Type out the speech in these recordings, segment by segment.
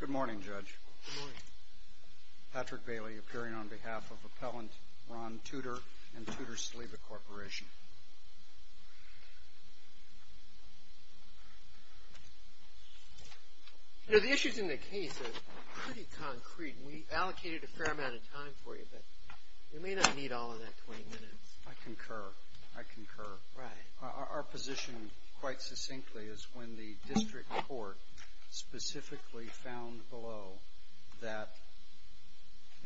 Good morning, Judge. Patrick Bailey, appearing on behalf of Appellant Ron Tudor and Tudor-Saliba Corporation. You know, the issues in the case are pretty concrete, and we've allocated a fair amount of time for you, but you may not need all of that 20 minutes. I concur. I concur. Our position, quite succinctly, is when the district court specifically found below that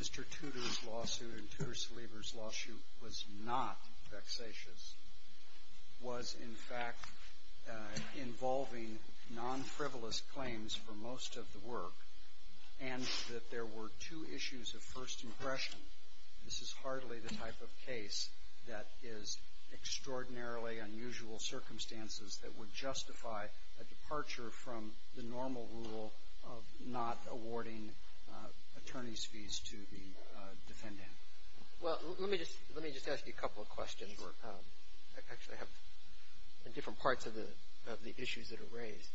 Mr. Tudor's lawsuit and Tudor-Saliba's lawsuit was not vexatious, was, in fact, involving non-frivolous claims for most of the work, and that there were two issues of first impression. This is hardly the type of case that is extraordinarily unusual circumstances that would justify a departure from the normal rule of not awarding attorney's fees to the defendant. Well, let me just ask you a couple of questions. I actually have different parts of the issues that are raised.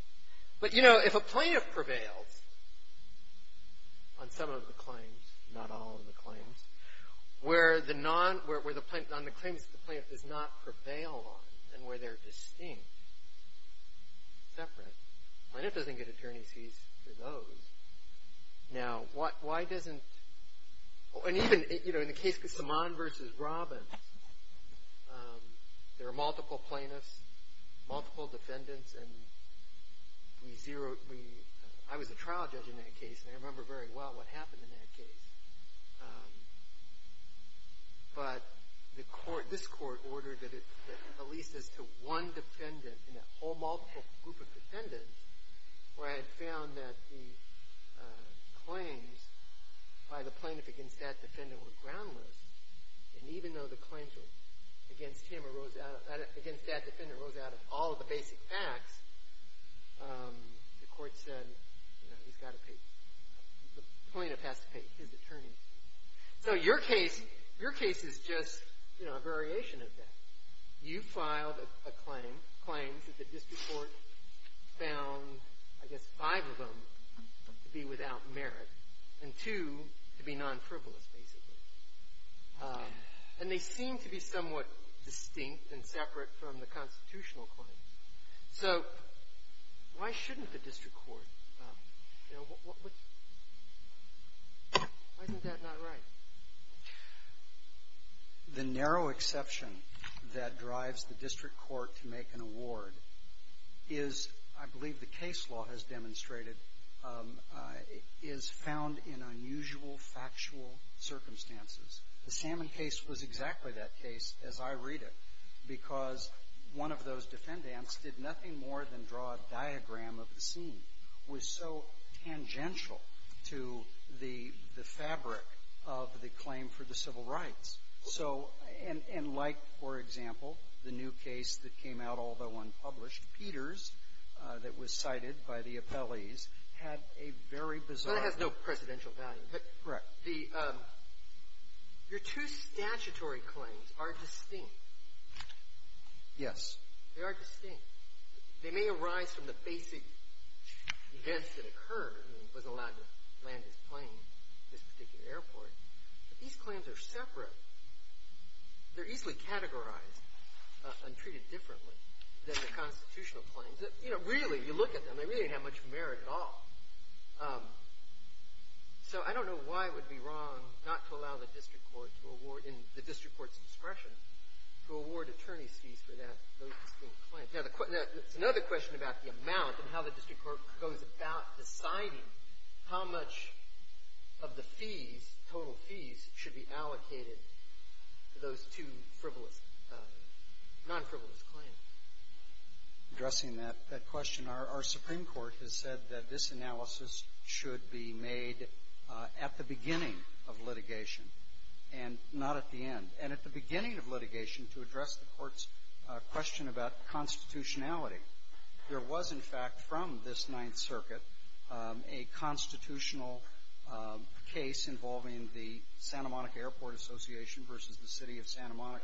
But, you know, if a plaintiff prevails on some of the claims, not all of the claims, where the non – where the – on the claims that the plaintiff does not prevail on, and where they're distinct, separate, the plaintiff doesn't get attorney's fees for those. Now, why doesn't – and even, you know, in the case of Simon v. Robbins, there are multiple plaintiffs, multiple defendants, and we zeroed – we – I was a trial judge in that case, and I remember very well what happened in that case. But the court – this court ordered that at least as to one defendant in a whole multiple group of defendants, where I had found that the claims by the plaintiff against that defendant were groundless, and even though the claims against him arose out of – against that defendant arose out of all of the basic facts, the court said, you know, he's got to pay – the plaintiff has to pay his attorney's fees. So your case – your case is just, you know, a variation of that. You filed a claim – claims that the district court found, I guess, five of them to be without merit and two to be non-frivolous, basically. And they seem to be somewhat distinct and separate from the constitutional claims. So why shouldn't the district court – you know, what – why isn't that not right? The narrow exception that drives the district court to make an award is, I believe the case law has demonstrated, is found in unusual factual circumstances. The Salmon case was exactly that case, as I read it, because one of those defendants did nothing more than draw a diagram of the scene, was so tangential to the – the fabric of the claim for the civil rights. So – and like, for example, the new case that came out, although unpublished, Peters, that was cited by the appellees, had a very bizarre – Your two statutory claims are distinct. Yes. They are distinct. They may arise from the basic events that occurred. I mean, he wasn't allowed to land his plane at this particular airport. But these claims are separate. They're easily categorized and treated differently than the constitutional claims. You know, really, you look at them, they really didn't have much merit at all. So I don't know why it would be wrong not to allow the district court to award – in the district court's discretion to award attorney's fees for that – those distinct claims. Now, the – it's another question about the amount and how the district court goes about deciding how much of the fees, total fees, should be allocated to those two frivolous – non-frivolous claims. Addressing that question, our Supreme Court has said that this analysis should be made at the beginning of litigation and not at the end, and at the beginning of litigation to address the court's question about constitutionality. There was, in fact, from this Ninth Circuit, a constitutional case involving the Santa Monica Airport Association versus the city of Santa Monica,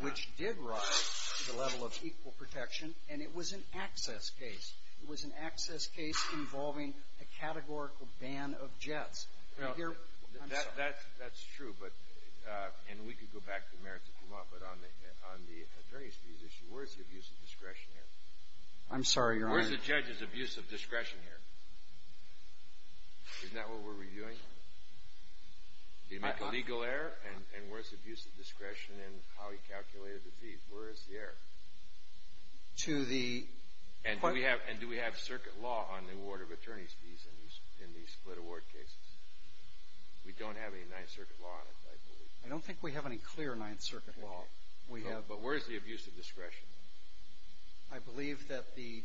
which did rise to the level of equal protection. And it was an access case. It was an access case involving a categorical ban of jets. Now, here – I'm sorry. That's true, but – and we could go back to the merits of Vermont, but on the attorney's fees issue, where's the abuse of discretion here? I'm sorry, Your Honor. Where's the judge's abuse of discretion here? Isn't that what we're reviewing? Do you make a legal error? And where's the abuse of discretion in how he calculated the fees? Where is the error? To the – And do we have circuit law on the award of attorney's fees in these split award cases? We don't have any Ninth Circuit law on it, I believe. I don't think we have any clear Ninth Circuit law. No, but where is the abuse of discretion? I believe that the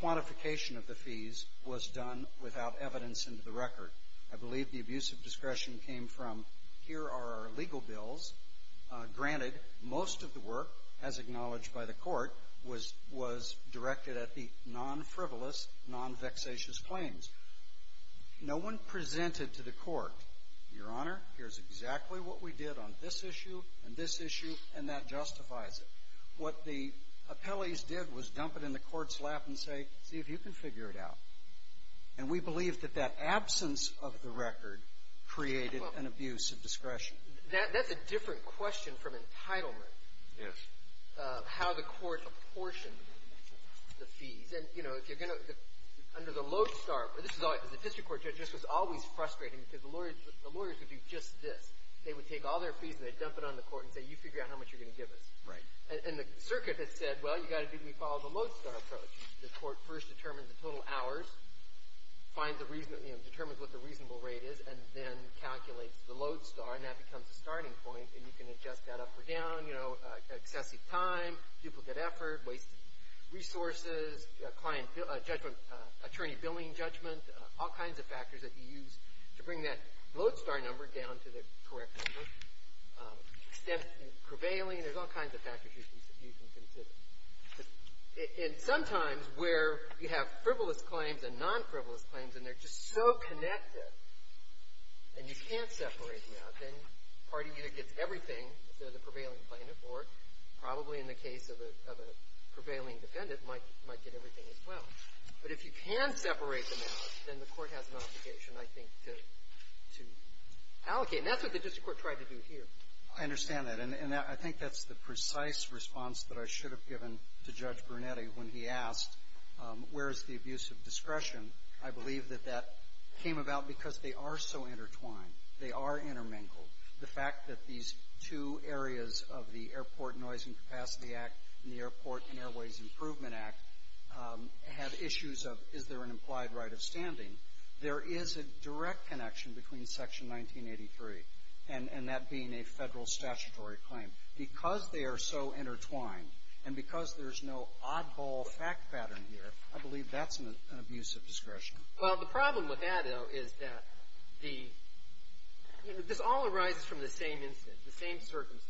quantification of the fees was done without evidence into the record. I believe the abuse of discretion came from, here are our legal bills. Granted, most of the work, as acknowledged by the court, was directed at the non-frivolous, non-vexatious claims. No one presented to the court, Your Honor, here's exactly what we did on this issue and this issue, and that justifies it. What the appellees did was dump it in the court's lap and say, see if you can figure it out. And we believe that that absence of the record created an abuse of discretion. That's a different question from entitlement. Yes. How the court apportioned the fees. And, you know, if you're going to – under the low start – This was always – as a district court judge, this was always frustrating because the lawyers would do just this. They would take all their fees and they'd dump it on the court and say, you figure out how much you're going to give us. Right. And the circuit had said, well, you've got to do – we follow the low start approach. The court first determines the total hours, finds the – determines what the reasonable rate is, and then calculates the low start, and that becomes the starting point, and you can adjust that up or down, you know, excessive time, duplicate effort, wasted resources, client judgment, attorney billing judgment, all kinds of factors that you use to bring that low start number down to the correct number. Extensive prevailing, there's all kinds of factors you can consider. And sometimes where you have frivolous claims and non-frivolous claims and they're just so connected, and you can't separate them out, then the party either gets everything, if they're the prevailing plaintiff, or probably in the case of a prevailing defendant, might get everything as well. But if you can separate them out, then the court has an obligation, I think, to allocate. And that's what the district court tried to do here. I understand that, and I think that's the precise response that I should have given to Judge Brunetti when he asked, where is the abuse of discretion? I believe that that came about because they are so intertwined. They are intermingled. The fact that these two areas of the Airport Noise and Capacity Act and the Airport and Airways Improvement Act have issues of, is there an implied right of standing? There is a direct connection between Section 1983 and that being a federal statutory claim. Because they are so intertwined and because there's no oddball fact pattern here, I believe that's an abuse of discretion. Well, the problem with that, though, is that the – this all arises from the same instance, the same circumstance.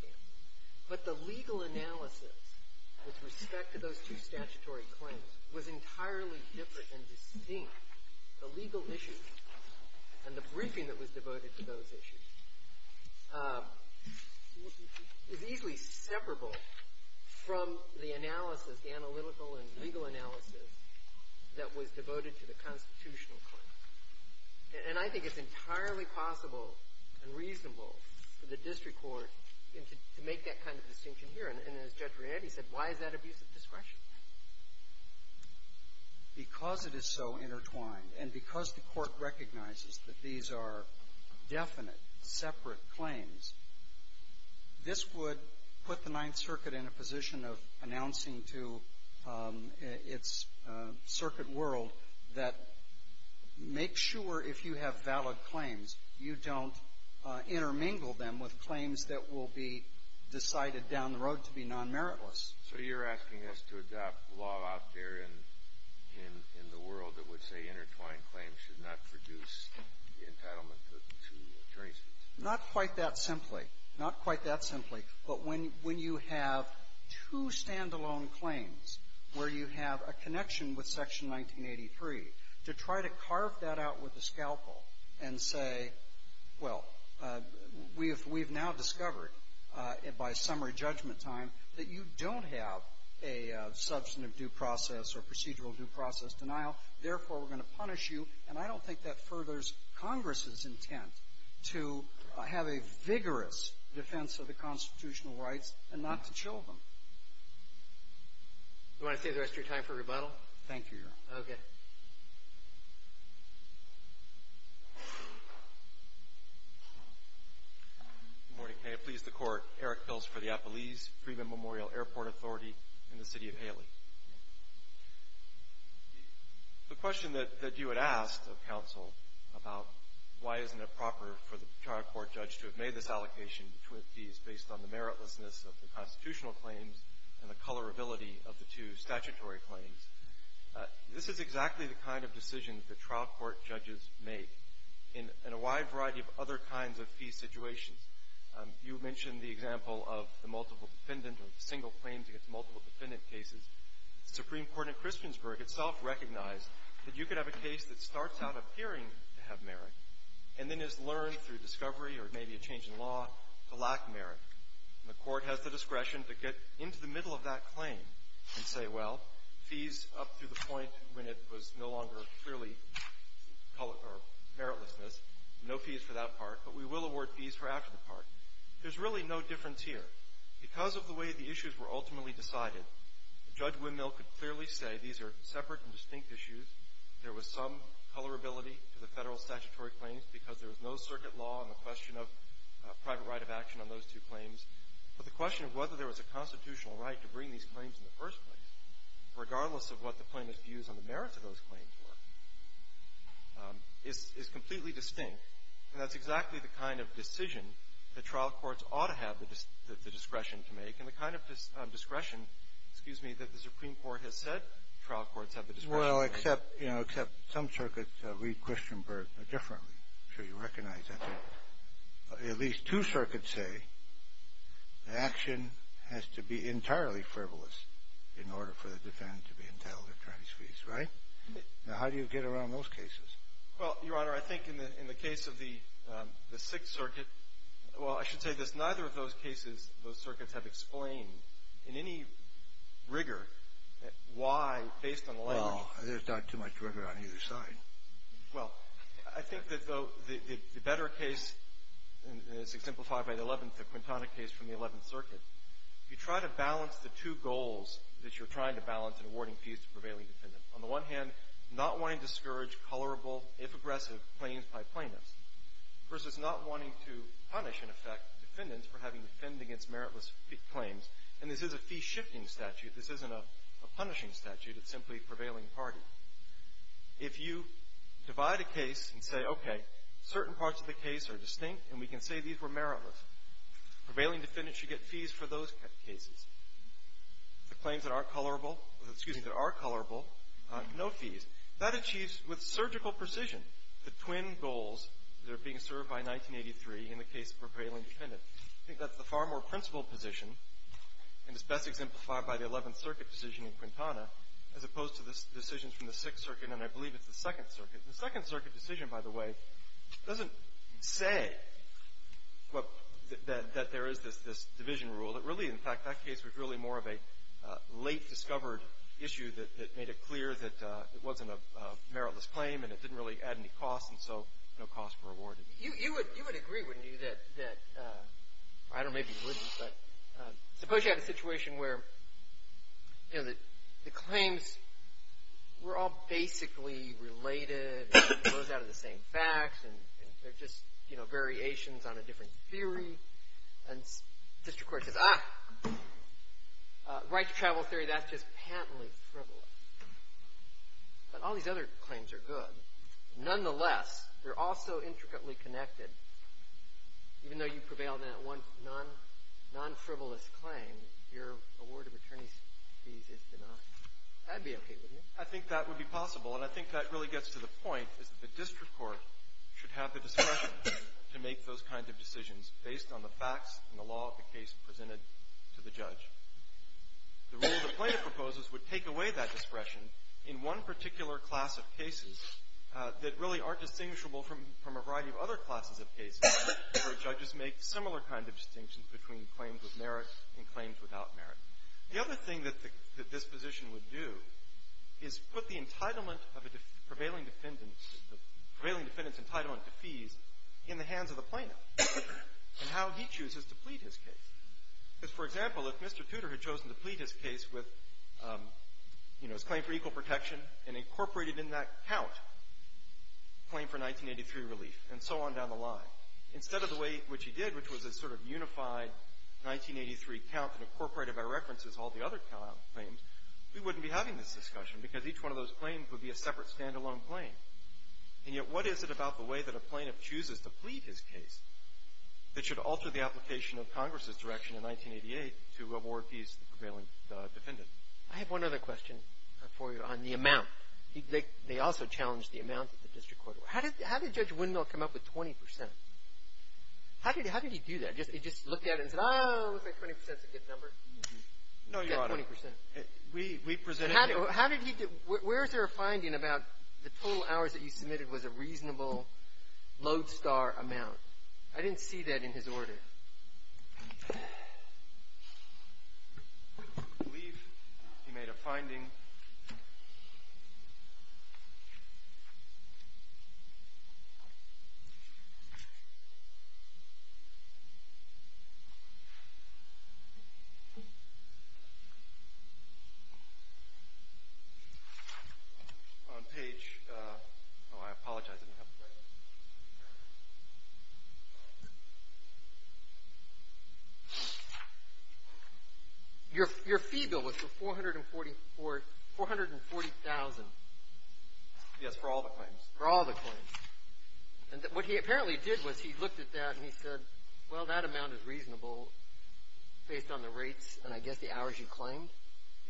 But the legal analysis with respect to those two statutory claims was entirely different and distinct. The legal issue and the briefing that was devoted to those issues is easily separable from the analysis, the analytical and legal analysis that was devoted to the constitutional claim. And I think it's entirely possible and reasonable for the district court to make that kind of distinction here. And as Judge Brunetti said, why is that abuse of discretion? Because it is so intertwined and because the court recognizes that these are definite, separate claims, this would put the Ninth Circuit in a position of announcing to its circuit world that make sure if you have valid claims, you don't intermingle them with claims that will be decided down the road to be non-meritless. So you're asking us to adopt law out there in the world that would say intertwined claims should not produce the entitlement to attorney's fees? Not quite that simply. Not quite that simply. But when you have two stand-alone claims where you have a connection with Section 1983, to try to carve that out with a scalpel and say, well, we've now discovered by summary judgment time that you don't have a substantive due process or procedural due process denial. Therefore, we're going to punish you. And I don't think that furthers Congress's intent to have a vigorous defense of the constitutional rights and not to chill them. Do you want to save the rest of your time for rebuttal? Thank you, Your Honor. Okay. Good morning. May it please the Court. Eric Bills for the Appalese Freeman Memorial Airport Authority in the City of Haley. The question that you had asked of counsel about why isn't it proper for the trial court judge to have made this allocation between fees based on the meritlessness of the constitutional claims and the colorability of the two statutory claims, this is exactly the kind of decision that trial court judges make in a wide variety of other kinds of fee situations. You mentioned the example of the multiple defendant or the single claims against multiple defendant cases. The Supreme Court in Christiansburg itself recognized that you could have a case that starts out appearing to have merit and then is learned through discovery or maybe a change in law to lack merit. And the Court has the discretion to get into the middle of that claim and say, well, fees up to the point when it was no longer clearly meritlessness, no fees for that part, but we will award fees for after the part. There's really no difference here. Because of the way the issues were ultimately decided, Judge Windmill could clearly say these are separate and distinct issues. There was some colorability to the federal statutory claims because there was no circuit law on the question of private right of action on those two claims. But the question of whether there was a constitutional right to bring these claims in the first place, regardless of what the plaintiff's views on the merits of those claims were, is completely distinct. And that's exactly the kind of decision that trial courts ought to have the discretion to make and the kind of discretion, excuse me, that the Supreme Court has said trial courts have the discretion to make. Well, except, you know, except some circuits read Christianburg differently. I'm sure you recognize that. At least two circuits say the action has to be entirely frivolous in order for the defendant to be entitled to attorney's fees. Right? Now, how do you get around those cases? Well, Your Honor, I think in the case of the Sixth Circuit, well, I should say this. Neither of those cases, those circuits, have explained in any rigor why, based on language — Well, there's not too much rigor on either side. Well, I think that the better case, as exemplified by the eleventh, the Quintana case from the Eleventh Circuit, if you try to balance the two goals that you're trying to balance in awarding fees to prevailing defendants, on the one hand, not wanting to discourage colorable, if aggressive, claims by plaintiffs, versus not wanting to punish, in effect, defendants for having defended against meritless claims. And this is a fee-shifting statute. This isn't a punishing statute. It's simply prevailing party. If you divide a case and say, okay, certain parts of the case are distinct, and we can say these were meritless, prevailing defendants should get fees for those cases. The claims that are colorable — excuse me, that are colorable, no fees. That achieves, with surgical precision, the twin goals that are being served by 1983 in the case of prevailing defendants. I think that's the far more principled position, and it's best exemplified by the Eleventh Circuit decision in Quintana, as opposed to the decisions from the Sixth Circuit, and I believe it's the Second Circuit. The Second Circuit decision, by the way, doesn't say that there is this division rule. It really, in fact, that case was really more of a late-discovered issue that made it clear that it wasn't a meritless claim, and it didn't really add any costs, and so no costs were awarded. You would agree, wouldn't you, that — I don't know, maybe you wouldn't, but suppose you had a situation where, you know, the claims were all basically related, and it flows out of the same facts, and they're just, you know, variations on a different theory. And the district court says, ah, right-to-travel theory, that's just patently frivolous. But all these other claims are good. Nonetheless, they're also intricately connected. Even though you prevailed in that one non-frivolous claim, your award of attorney's fees is denied. That would be okay, wouldn't it? I think that would be possible, and I think that really gets to the point, is that the district court should have the discretion to make those kinds of decisions based on the facts and the law of the case presented to the judge. The rule the plaintiff proposes would take away that discretion in one particular class of cases that really aren't distinguishable from a variety of other classes of cases where judges make similar kinds of distinctions between claims with merit and claims without merit. The other thing that this position would do is put the entitlement of a prevailing defendant, the prevailing defendant's entitlement to fees, in the hands of the plaintiff, and how he chooses to plead his case. Because, for example, if Mr. Tudor had chosen to plead his case with, you know, his claim for equal protection and incorporated in that count a claim for 1983 relief, and so on down the line, instead of the way in which he did, which was a sort of unified 1983 count and incorporated by reference as all the other count claims, we wouldn't be having this discussion because each one of those claims would be a separate stand-alone claim. And yet what is it about the way that a plaintiff chooses to plead his case that should alter the application of Congress's direction in 1988 to award fees to the prevailing defendant? I have one other question for you on the amount. They also challenged the amount that the district court awarded. How did Judge Windmill come up with 20 percent? How did he do that? He just looked at it and said, oh, I think 20 percent is a good number? No, Your Honor. He said 20 percent. We presented it. How did he get – where is there a finding about the total hours that you submitted was a reasonable lodestar amount? I didn't see that in his order. I believe he made a finding on page – oh, I apologize. Your fee bill was for 440,000. Yes, for all the claims. For all the claims. And what he apparently did was he looked at that and he said, well, that amount is reasonable based on the rates and I guess the hours you claimed?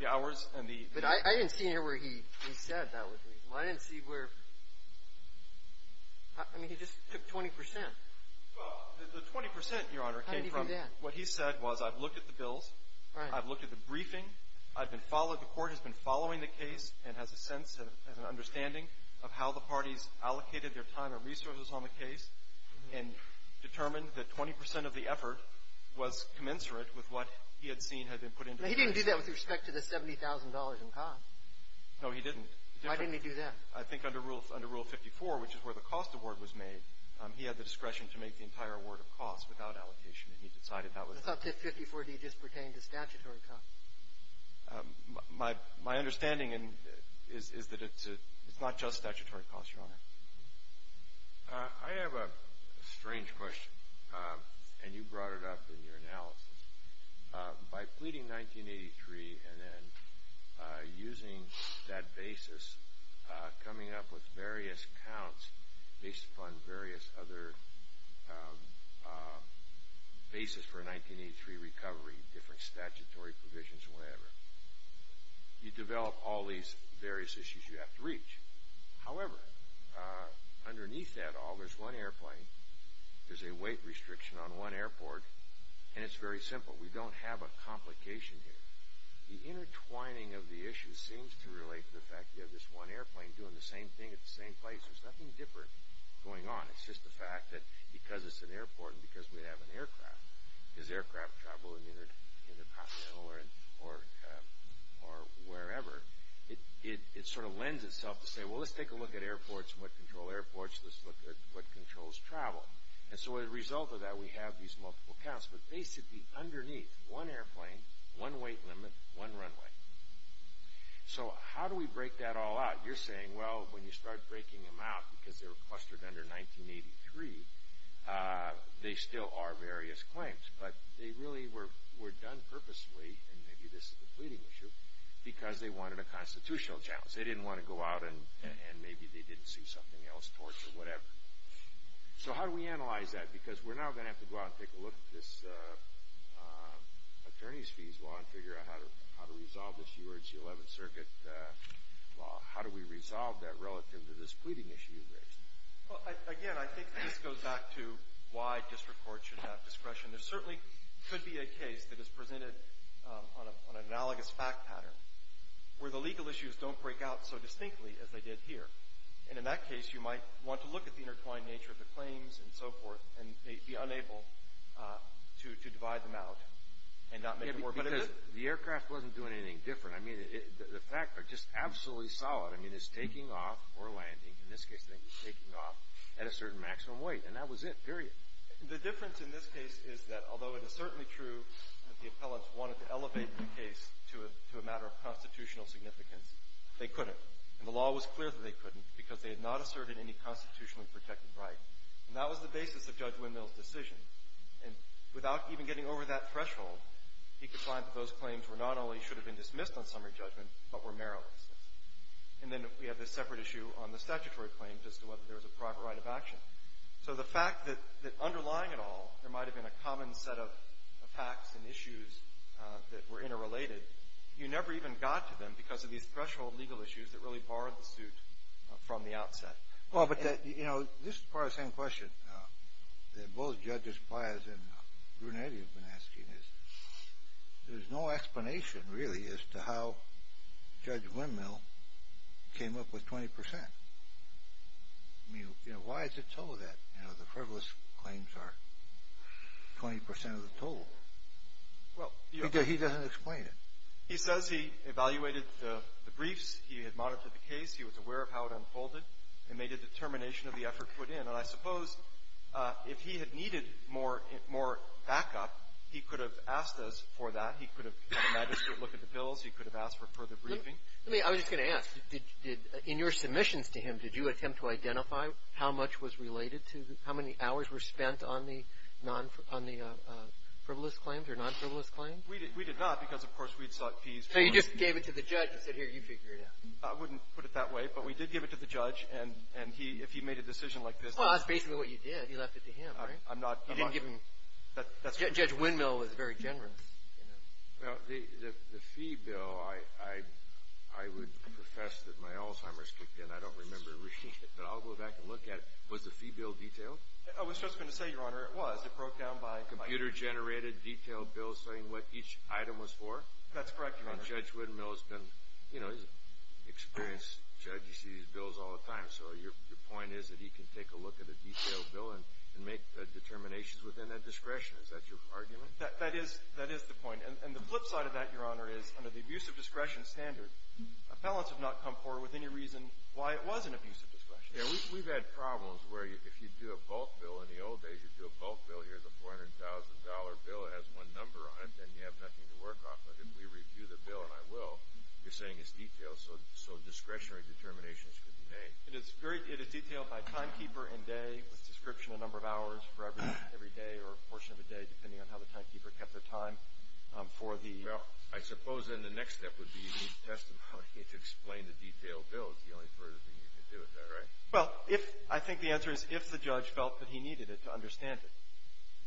The hours and the – But I didn't see anywhere where he said that was reasonable. I didn't see where – I mean, he just took 20 percent. Well, the 20 percent, Your Honor, came from – How did he do that? What he said was I've looked at the bills. Right. I've looked at the briefing. I've been followed – the court has been following the case and has a sense, has an understanding of how the parties allocated their time and resources on the case and determined that 20 percent of the effort was commensurate with what he had seen had been put into the case. Now, he didn't do that with respect to the $70,000 in cost. No, he didn't. Why didn't he do that? I think under Rule – under Rule 54, which is where the cost award was made, he had the discretion to make the entire award of cost without allocation, and he decided that was – That's not – 54D just pertained to statutory cost. My – my understanding is that it's a – it's not just statutory cost, Your Honor. I have a strange question, and you brought it up in your analysis. By pleading 1983 and then using that basis, coming up with various counts based upon various other basis for a 1983 recovery, different statutory provisions, whatever, you develop all these various issues you have to reach. However, underneath that all, there's one airplane, there's a weight restriction on one airport, and it's very simple. We don't have a complication here. The intertwining of the issues seems to relate to the fact you have this one airplane doing the same thing at the same place. There's nothing different going on. It's just the fact that because it's an airport and because we have an aircraft, because aircraft travel in the intercontinental or wherever, it sort of lends itself to say, well, let's take a look at airports and what control airports, let's look at what controls travel. And so as a result of that, we have these multiple counts, but basically underneath, one airplane, one weight limit, one runway. So how do we break that all out? You're saying, well, when you start breaking them out, because they're clustered under 1983, they still are various claims, but they really were done purposely, and maybe this is a pleading issue, because they wanted a constitutional challenge. They didn't want to go out and maybe they didn't see something else towards it, whatever. So how do we analyze that? Because we're now going to have to go out and take a look at this attorney's fees law and figure out how to resolve this U.S. 11th Circuit law. How do we resolve that relative to this pleading issue you raised? Again, I think this goes back to why district courts should have discretion. There certainly could be a case that is presented on an analogous fact pattern where the legal issues don't break out so distinctly as they did here. And in that case, you might want to look at the intertwined nature of the claims and so forth and be unable to divide them out and not make a war, but it is. Because the aircraft wasn't doing anything different. I mean, the facts are just absolutely solid. I mean, it's taking off or landing. In this case, I think it's taking off at a certain maximum weight, and that was it, period. The difference in this case is that although it is certainly true that the appellants wanted to elevate the case to a matter of constitutional significance, they couldn't. And the law was clear that they couldn't because they had not asserted any constitutionally protected right. And that was the basis of Judge Windmill's decision. And without even getting over that threshold, he could find that those claims were not only should have been dismissed on summary judgment, but were meriless. And then we have this separate issue on the statutory claims as to whether there was a proper right of action. So the fact that underlying it all, there might have been a common set of facts and issues that were interrelated. You never even got to them because of these threshold legal issues that really borrowed the suit from the outset. Well, but that, you know, this is part of the same question that both Judges Pius and Brunetti have been asking is there's no explanation, really, as to how Judge Windmill came up with 20%. I mean, you know, why is it so that, you know, the frivolous claims are 20% of the total? Because he doesn't explain it. He says he evaluated the briefs. He had monitored the case. He was aware of how it unfolded and made a determination of the effort put in. And I suppose if he had needed more backup, he could have asked us for that. He could have had a magistrate look at the bills. He could have asked for further briefing. I was just going to ask. In your submissions to him, did you attempt to identify how much was related to how many hours were spent on the non-frivolous claims or non-frivolous claims? We did not because, of course, we had sought fees. So you just gave it to the judge and said, here, you figure it out. I wouldn't put it that way, but we did give it to the judge. And he, if he made a decision like this. Well, that's basically what you did. You left it to him, right? I'm not. You didn't give him. Judge Windmill was very generous, you know. Well, the fee bill, I would profess that my Alzheimer's kicked in. I don't remember receiving it. But I'll go back and look at it. Was the fee bill detailed? I was just going to say, Your Honor, it was. It broke down by— Computer-generated detailed bill saying what each item was for? That's correct, Your Honor. And Judge Windmill has been, you know, he's an experienced judge. He sees bills all the time. So your point is that he can take a look at a detailed bill and make determinations within that discretion. Is that your argument? That is the point. And the flip side of that, Your Honor, is under the abuse of discretion standard, appellants have not come forward with any reason why it was an abuse of discretion. Yeah, we've had problems where if you do a bulk bill, in the old days you'd do a bulk bill, here's a $400,000 bill that has one number on it, and you have nothing to work off of. If we review the bill, and I will, you're saying it's detailed, so discretionary determinations could be made. It is detailed by timekeeper and day, with description of number of hours for every day or portion of the day, Well, I suppose then the next step would be you need testimony to explain the detailed bill. It's the only further thing you can do with that, right? Well, I think the answer is if the judge felt that he needed it to understand it.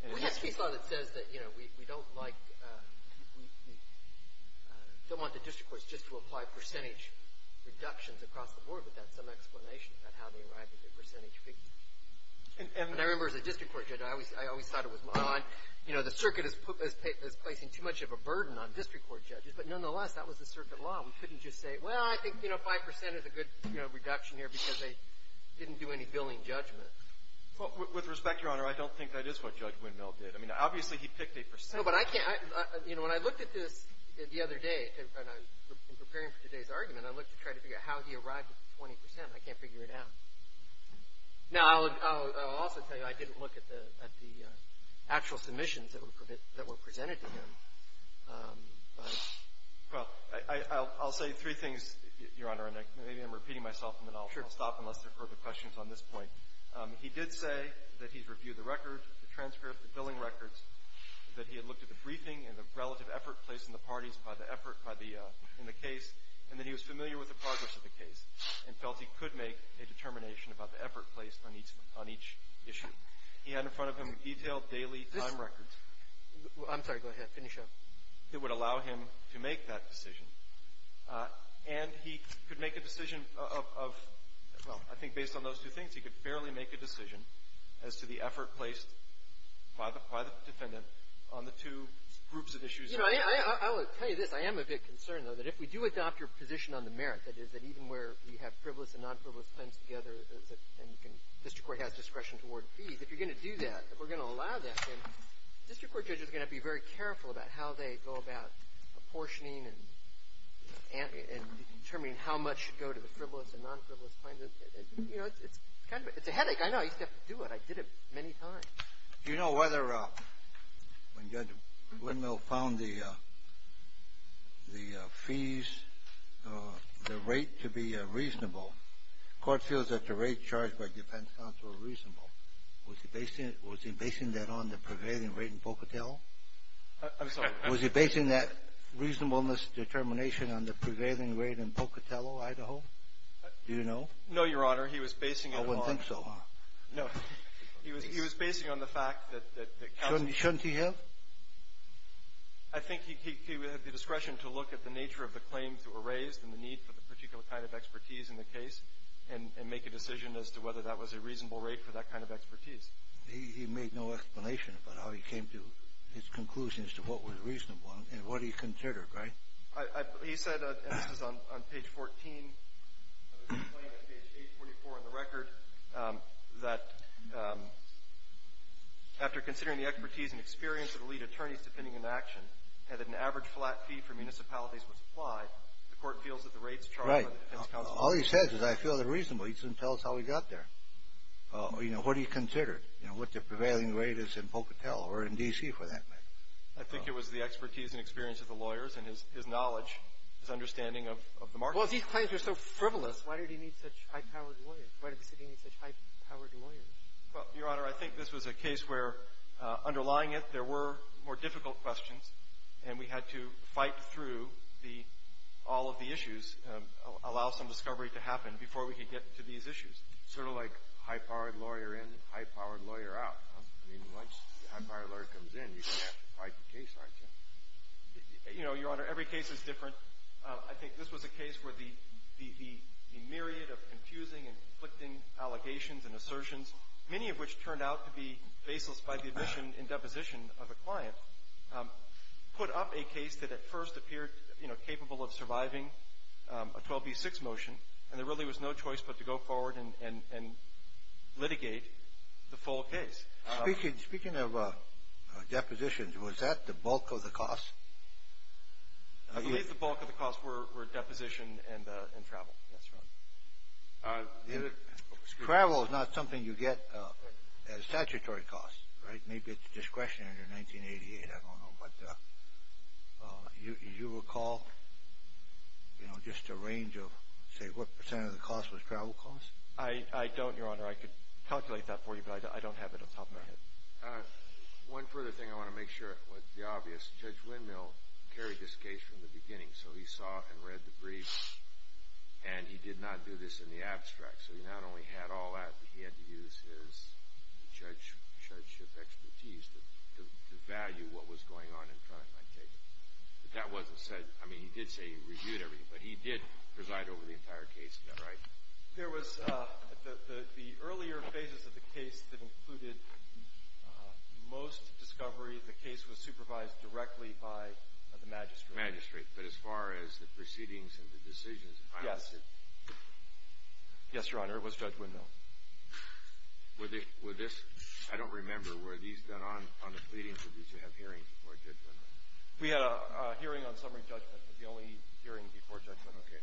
Well, yes, we saw that it says that, you know, we don't like, we don't want the district courts just to apply percentage reductions across the board, but that's some explanation of how they arrived at the percentage figure. And I remember as a district court judge, I always thought it was odd. You know, the circuit is placing too much of a burden on district court judges, but nonetheless, that was the circuit law. We couldn't just say, well, I think, you know, 5% is a good, you know, reduction here because they didn't do any billing judgment. Well, with respect, Your Honor, I don't think that is what Judge Windmill did. I mean, obviously he picked a percentage. No, but I can't, you know, when I looked at this the other day, in preparing for today's argument, I looked to try to figure out how he arrived at 20%. I can't figure it out. Now, I'll also tell you I didn't look at the actual submissions that were presented to him. Well, I'll say three things, Your Honor, and maybe I'm repeating myself, and then I'll stop unless there are further questions on this point. He did say that he had reviewed the record, the transcript, the billing records, that he had looked at the briefing and the relative effort placed in the parties by the effort in the case, and that he was familiar with the progress of the case and felt he could make a determination about the effort placed on each issue. He had in front of him detailed daily time records. I'm sorry. Go ahead. Finish up. It would allow him to make that decision. And he could make a decision of, well, I think based on those two things, he could fairly make a decision as to the effort placed by the defendant on the two groups of issues. You know, I will tell you this. I am a bit concerned, though, that if we do adopt your position on the merit, that is that even where we have frivolous and non-frivolous claims together and the district court has discretion toward fees, if you're going to do that, if we're going to allow that, then district court judges are going to have to be very careful about how they go about apportioning and determining how much should go to the frivolous and non-frivolous claims. You know, it's kind of a headache. I know. I used to have to do it. I did it many times. Do you know whether when Judge Windmill found the fees, the rate to be reasonable, the court feels that the rates charged by defense counsel are reasonable. Was he basing that on the prevailing rate in Pocatello? I'm sorry. Was he basing that reasonableness determination on the prevailing rate in Pocatello, Idaho? Do you know? No, Your Honor. He was basing it on the prevailing rate. I wouldn't think so. No. He was basing it on the fact that counsel ---- Shouldn't he have? I think he would have the discretion to look at the nature of the claims that were raised and the need for the particular kind of expertise in the case and make a decision as to whether that was a reasonable rate for that kind of expertise. He made no explanation about how he came to his conclusion as to what was reasonable and what he considered, right? He said, and this was on page 14, page 44 in the record, that after considering the expertise and experience of the lead attorneys defending an action and that an average flat fee for municipalities was applied, the court feels that the rates charged by the defense counsel are reasonable. Right. All he says is, I feel they're reasonable. He doesn't tell us how he got there. You know, what he considered, you know, what the prevailing rate is in Pocatello or in D.C. for that matter. I think it was the expertise and experience of the lawyers and his knowledge, his understanding of the market. Well, these claims are so frivolous. Why did he need such high-powered lawyers? Why did the city need such high-powered lawyers? Well, Your Honor, I think this was a case where, underlying it, there were more difficult questions, and we had to fight through the ---- all of the issues, allow some discovery to happen before we could get to these issues. Sort of like high-powered lawyer in, high-powered lawyer out. I mean, once a high-powered lawyer comes in, you have to fight the case, don't you? You know, Your Honor, every case is different. I think this was a case where the myriad of confusing and conflicting allegations and assertions, many of which turned out to be baseless by the admission and deposition of a client, put up a case that at first appeared, you know, capable of surviving a 12b-6 motion, and there really was no choice but to go forward and litigate the full case. Speaking of depositions, was that the bulk of the cost? I believe the bulk of the cost were deposition and travel. That's right. Travel is not something you get at a statutory cost, right? Maybe it's discretionary under 1988. I don't know. But you recall, you know, just a range of, say, what percent of the cost was travel cost? I don't, Your Honor. I could calculate that for you, but I don't have it on top of my head. One further thing I want to make sure is obvious. Judge Windmill carried this case from the beginning, so he saw and read the briefs, and he did not do this in the abstract, so he not only had all that, but he had to use his judgeship expertise to value what was going on in front of him. But that wasn't said. I mean, he did say he reviewed everything, but he did preside over the entire case, right? There was the earlier phases of the case that included most discovery. The case was supervised directly by the magistrate. Magistrate. But as far as the proceedings and the decisions, I'm not sure. Yes. Yes, Your Honor. It was Judge Windmill. Were this – I don't remember. Were these done on the pleadings, or did you have hearings before Judge Windmill? We had a hearing on summary judgment, but the only hearing before Judge Windmill. Okay.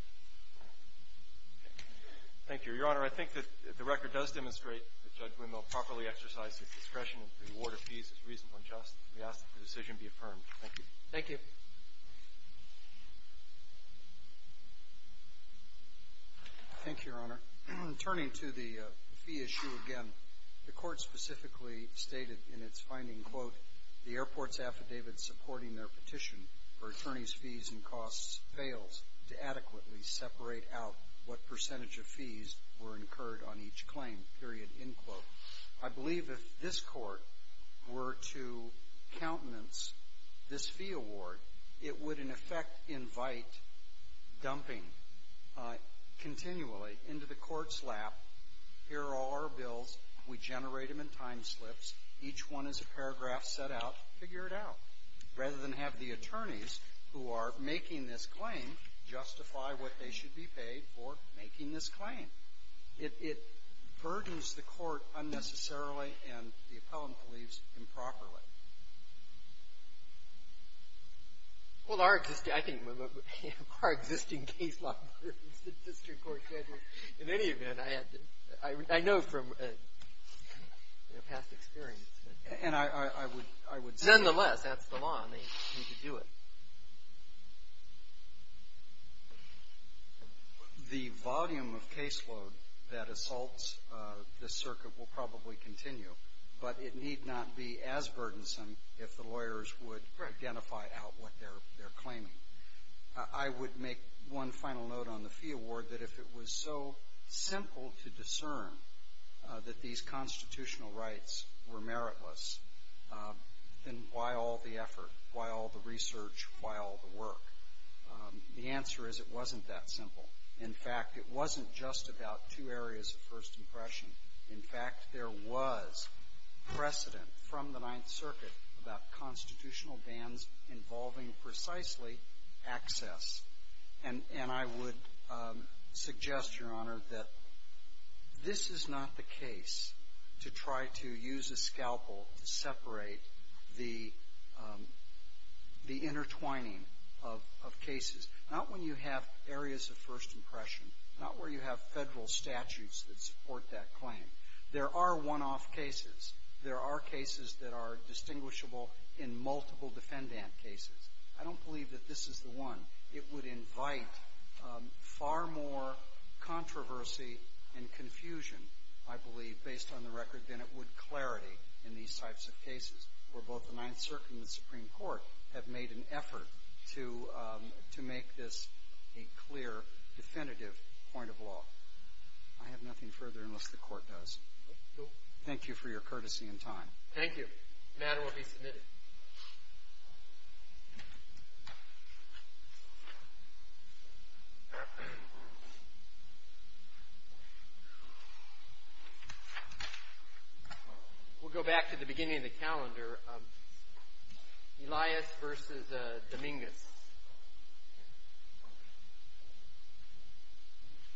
Thank you. Your Honor, I think that the record does demonstrate that Judge Windmill properly exercised his discretion and the award of fees is reasonably just. We ask that the decision be affirmed. Thank you. Thank you. Thank you, Your Honor. The airport's affidavit supporting their petition for attorney's fees and costs fails to adequately separate out what percentage of fees were incurred on each claim, period, end quote. I believe if this court were to countenance this fee award, it would, in effect, invite dumping continually into the court's lap. Here are our bills. We generate them in time slips. Each one is a paragraph set out. Figure it out. Rather than have the attorneys who are making this claim justify what they should be paid for making this claim. It burdens the court unnecessarily, and the appellant believes improperly. Well, our existing – I think our existing case law burdens the district court judges. In any event, I know from past experience. And I would say – Nonetheless, that's the law, and they need to do it. The volume of caseload that assaults this circuit will probably continue, but it need not be as burdensome if the lawyers would identify out what they're claiming. I would make one final note on the fee award, that if it was so simple to discern that these constitutional rights were meritless, then why all the effort? Why all the research? Why all the work? The answer is it wasn't that simple. In fact, it wasn't just about two areas of first impression. In fact, there was precedent from the Ninth Circuit about constitutional bans involving precisely access. And I would suggest, Your Honor, that this is not the case to try to use a scalpel to separate the intertwining of cases. Not when you have areas of first impression. Not where you have federal statutes that support that claim. There are one-off cases. There are cases that are distinguishable in multiple defendant cases. I don't believe that this is the one. It would invite far more controversy and confusion, I believe, based on the record than it would clarity in these types of cases, where both the Ninth Circuit and the Supreme Court have made an effort to make this a clear, definitive point of law. I have nothing further unless the Court does. Thank you for your courtesy and time. Thank you. The matter will be submitted. We'll go back to the beginning of the calendar. Elias v. Dominguez.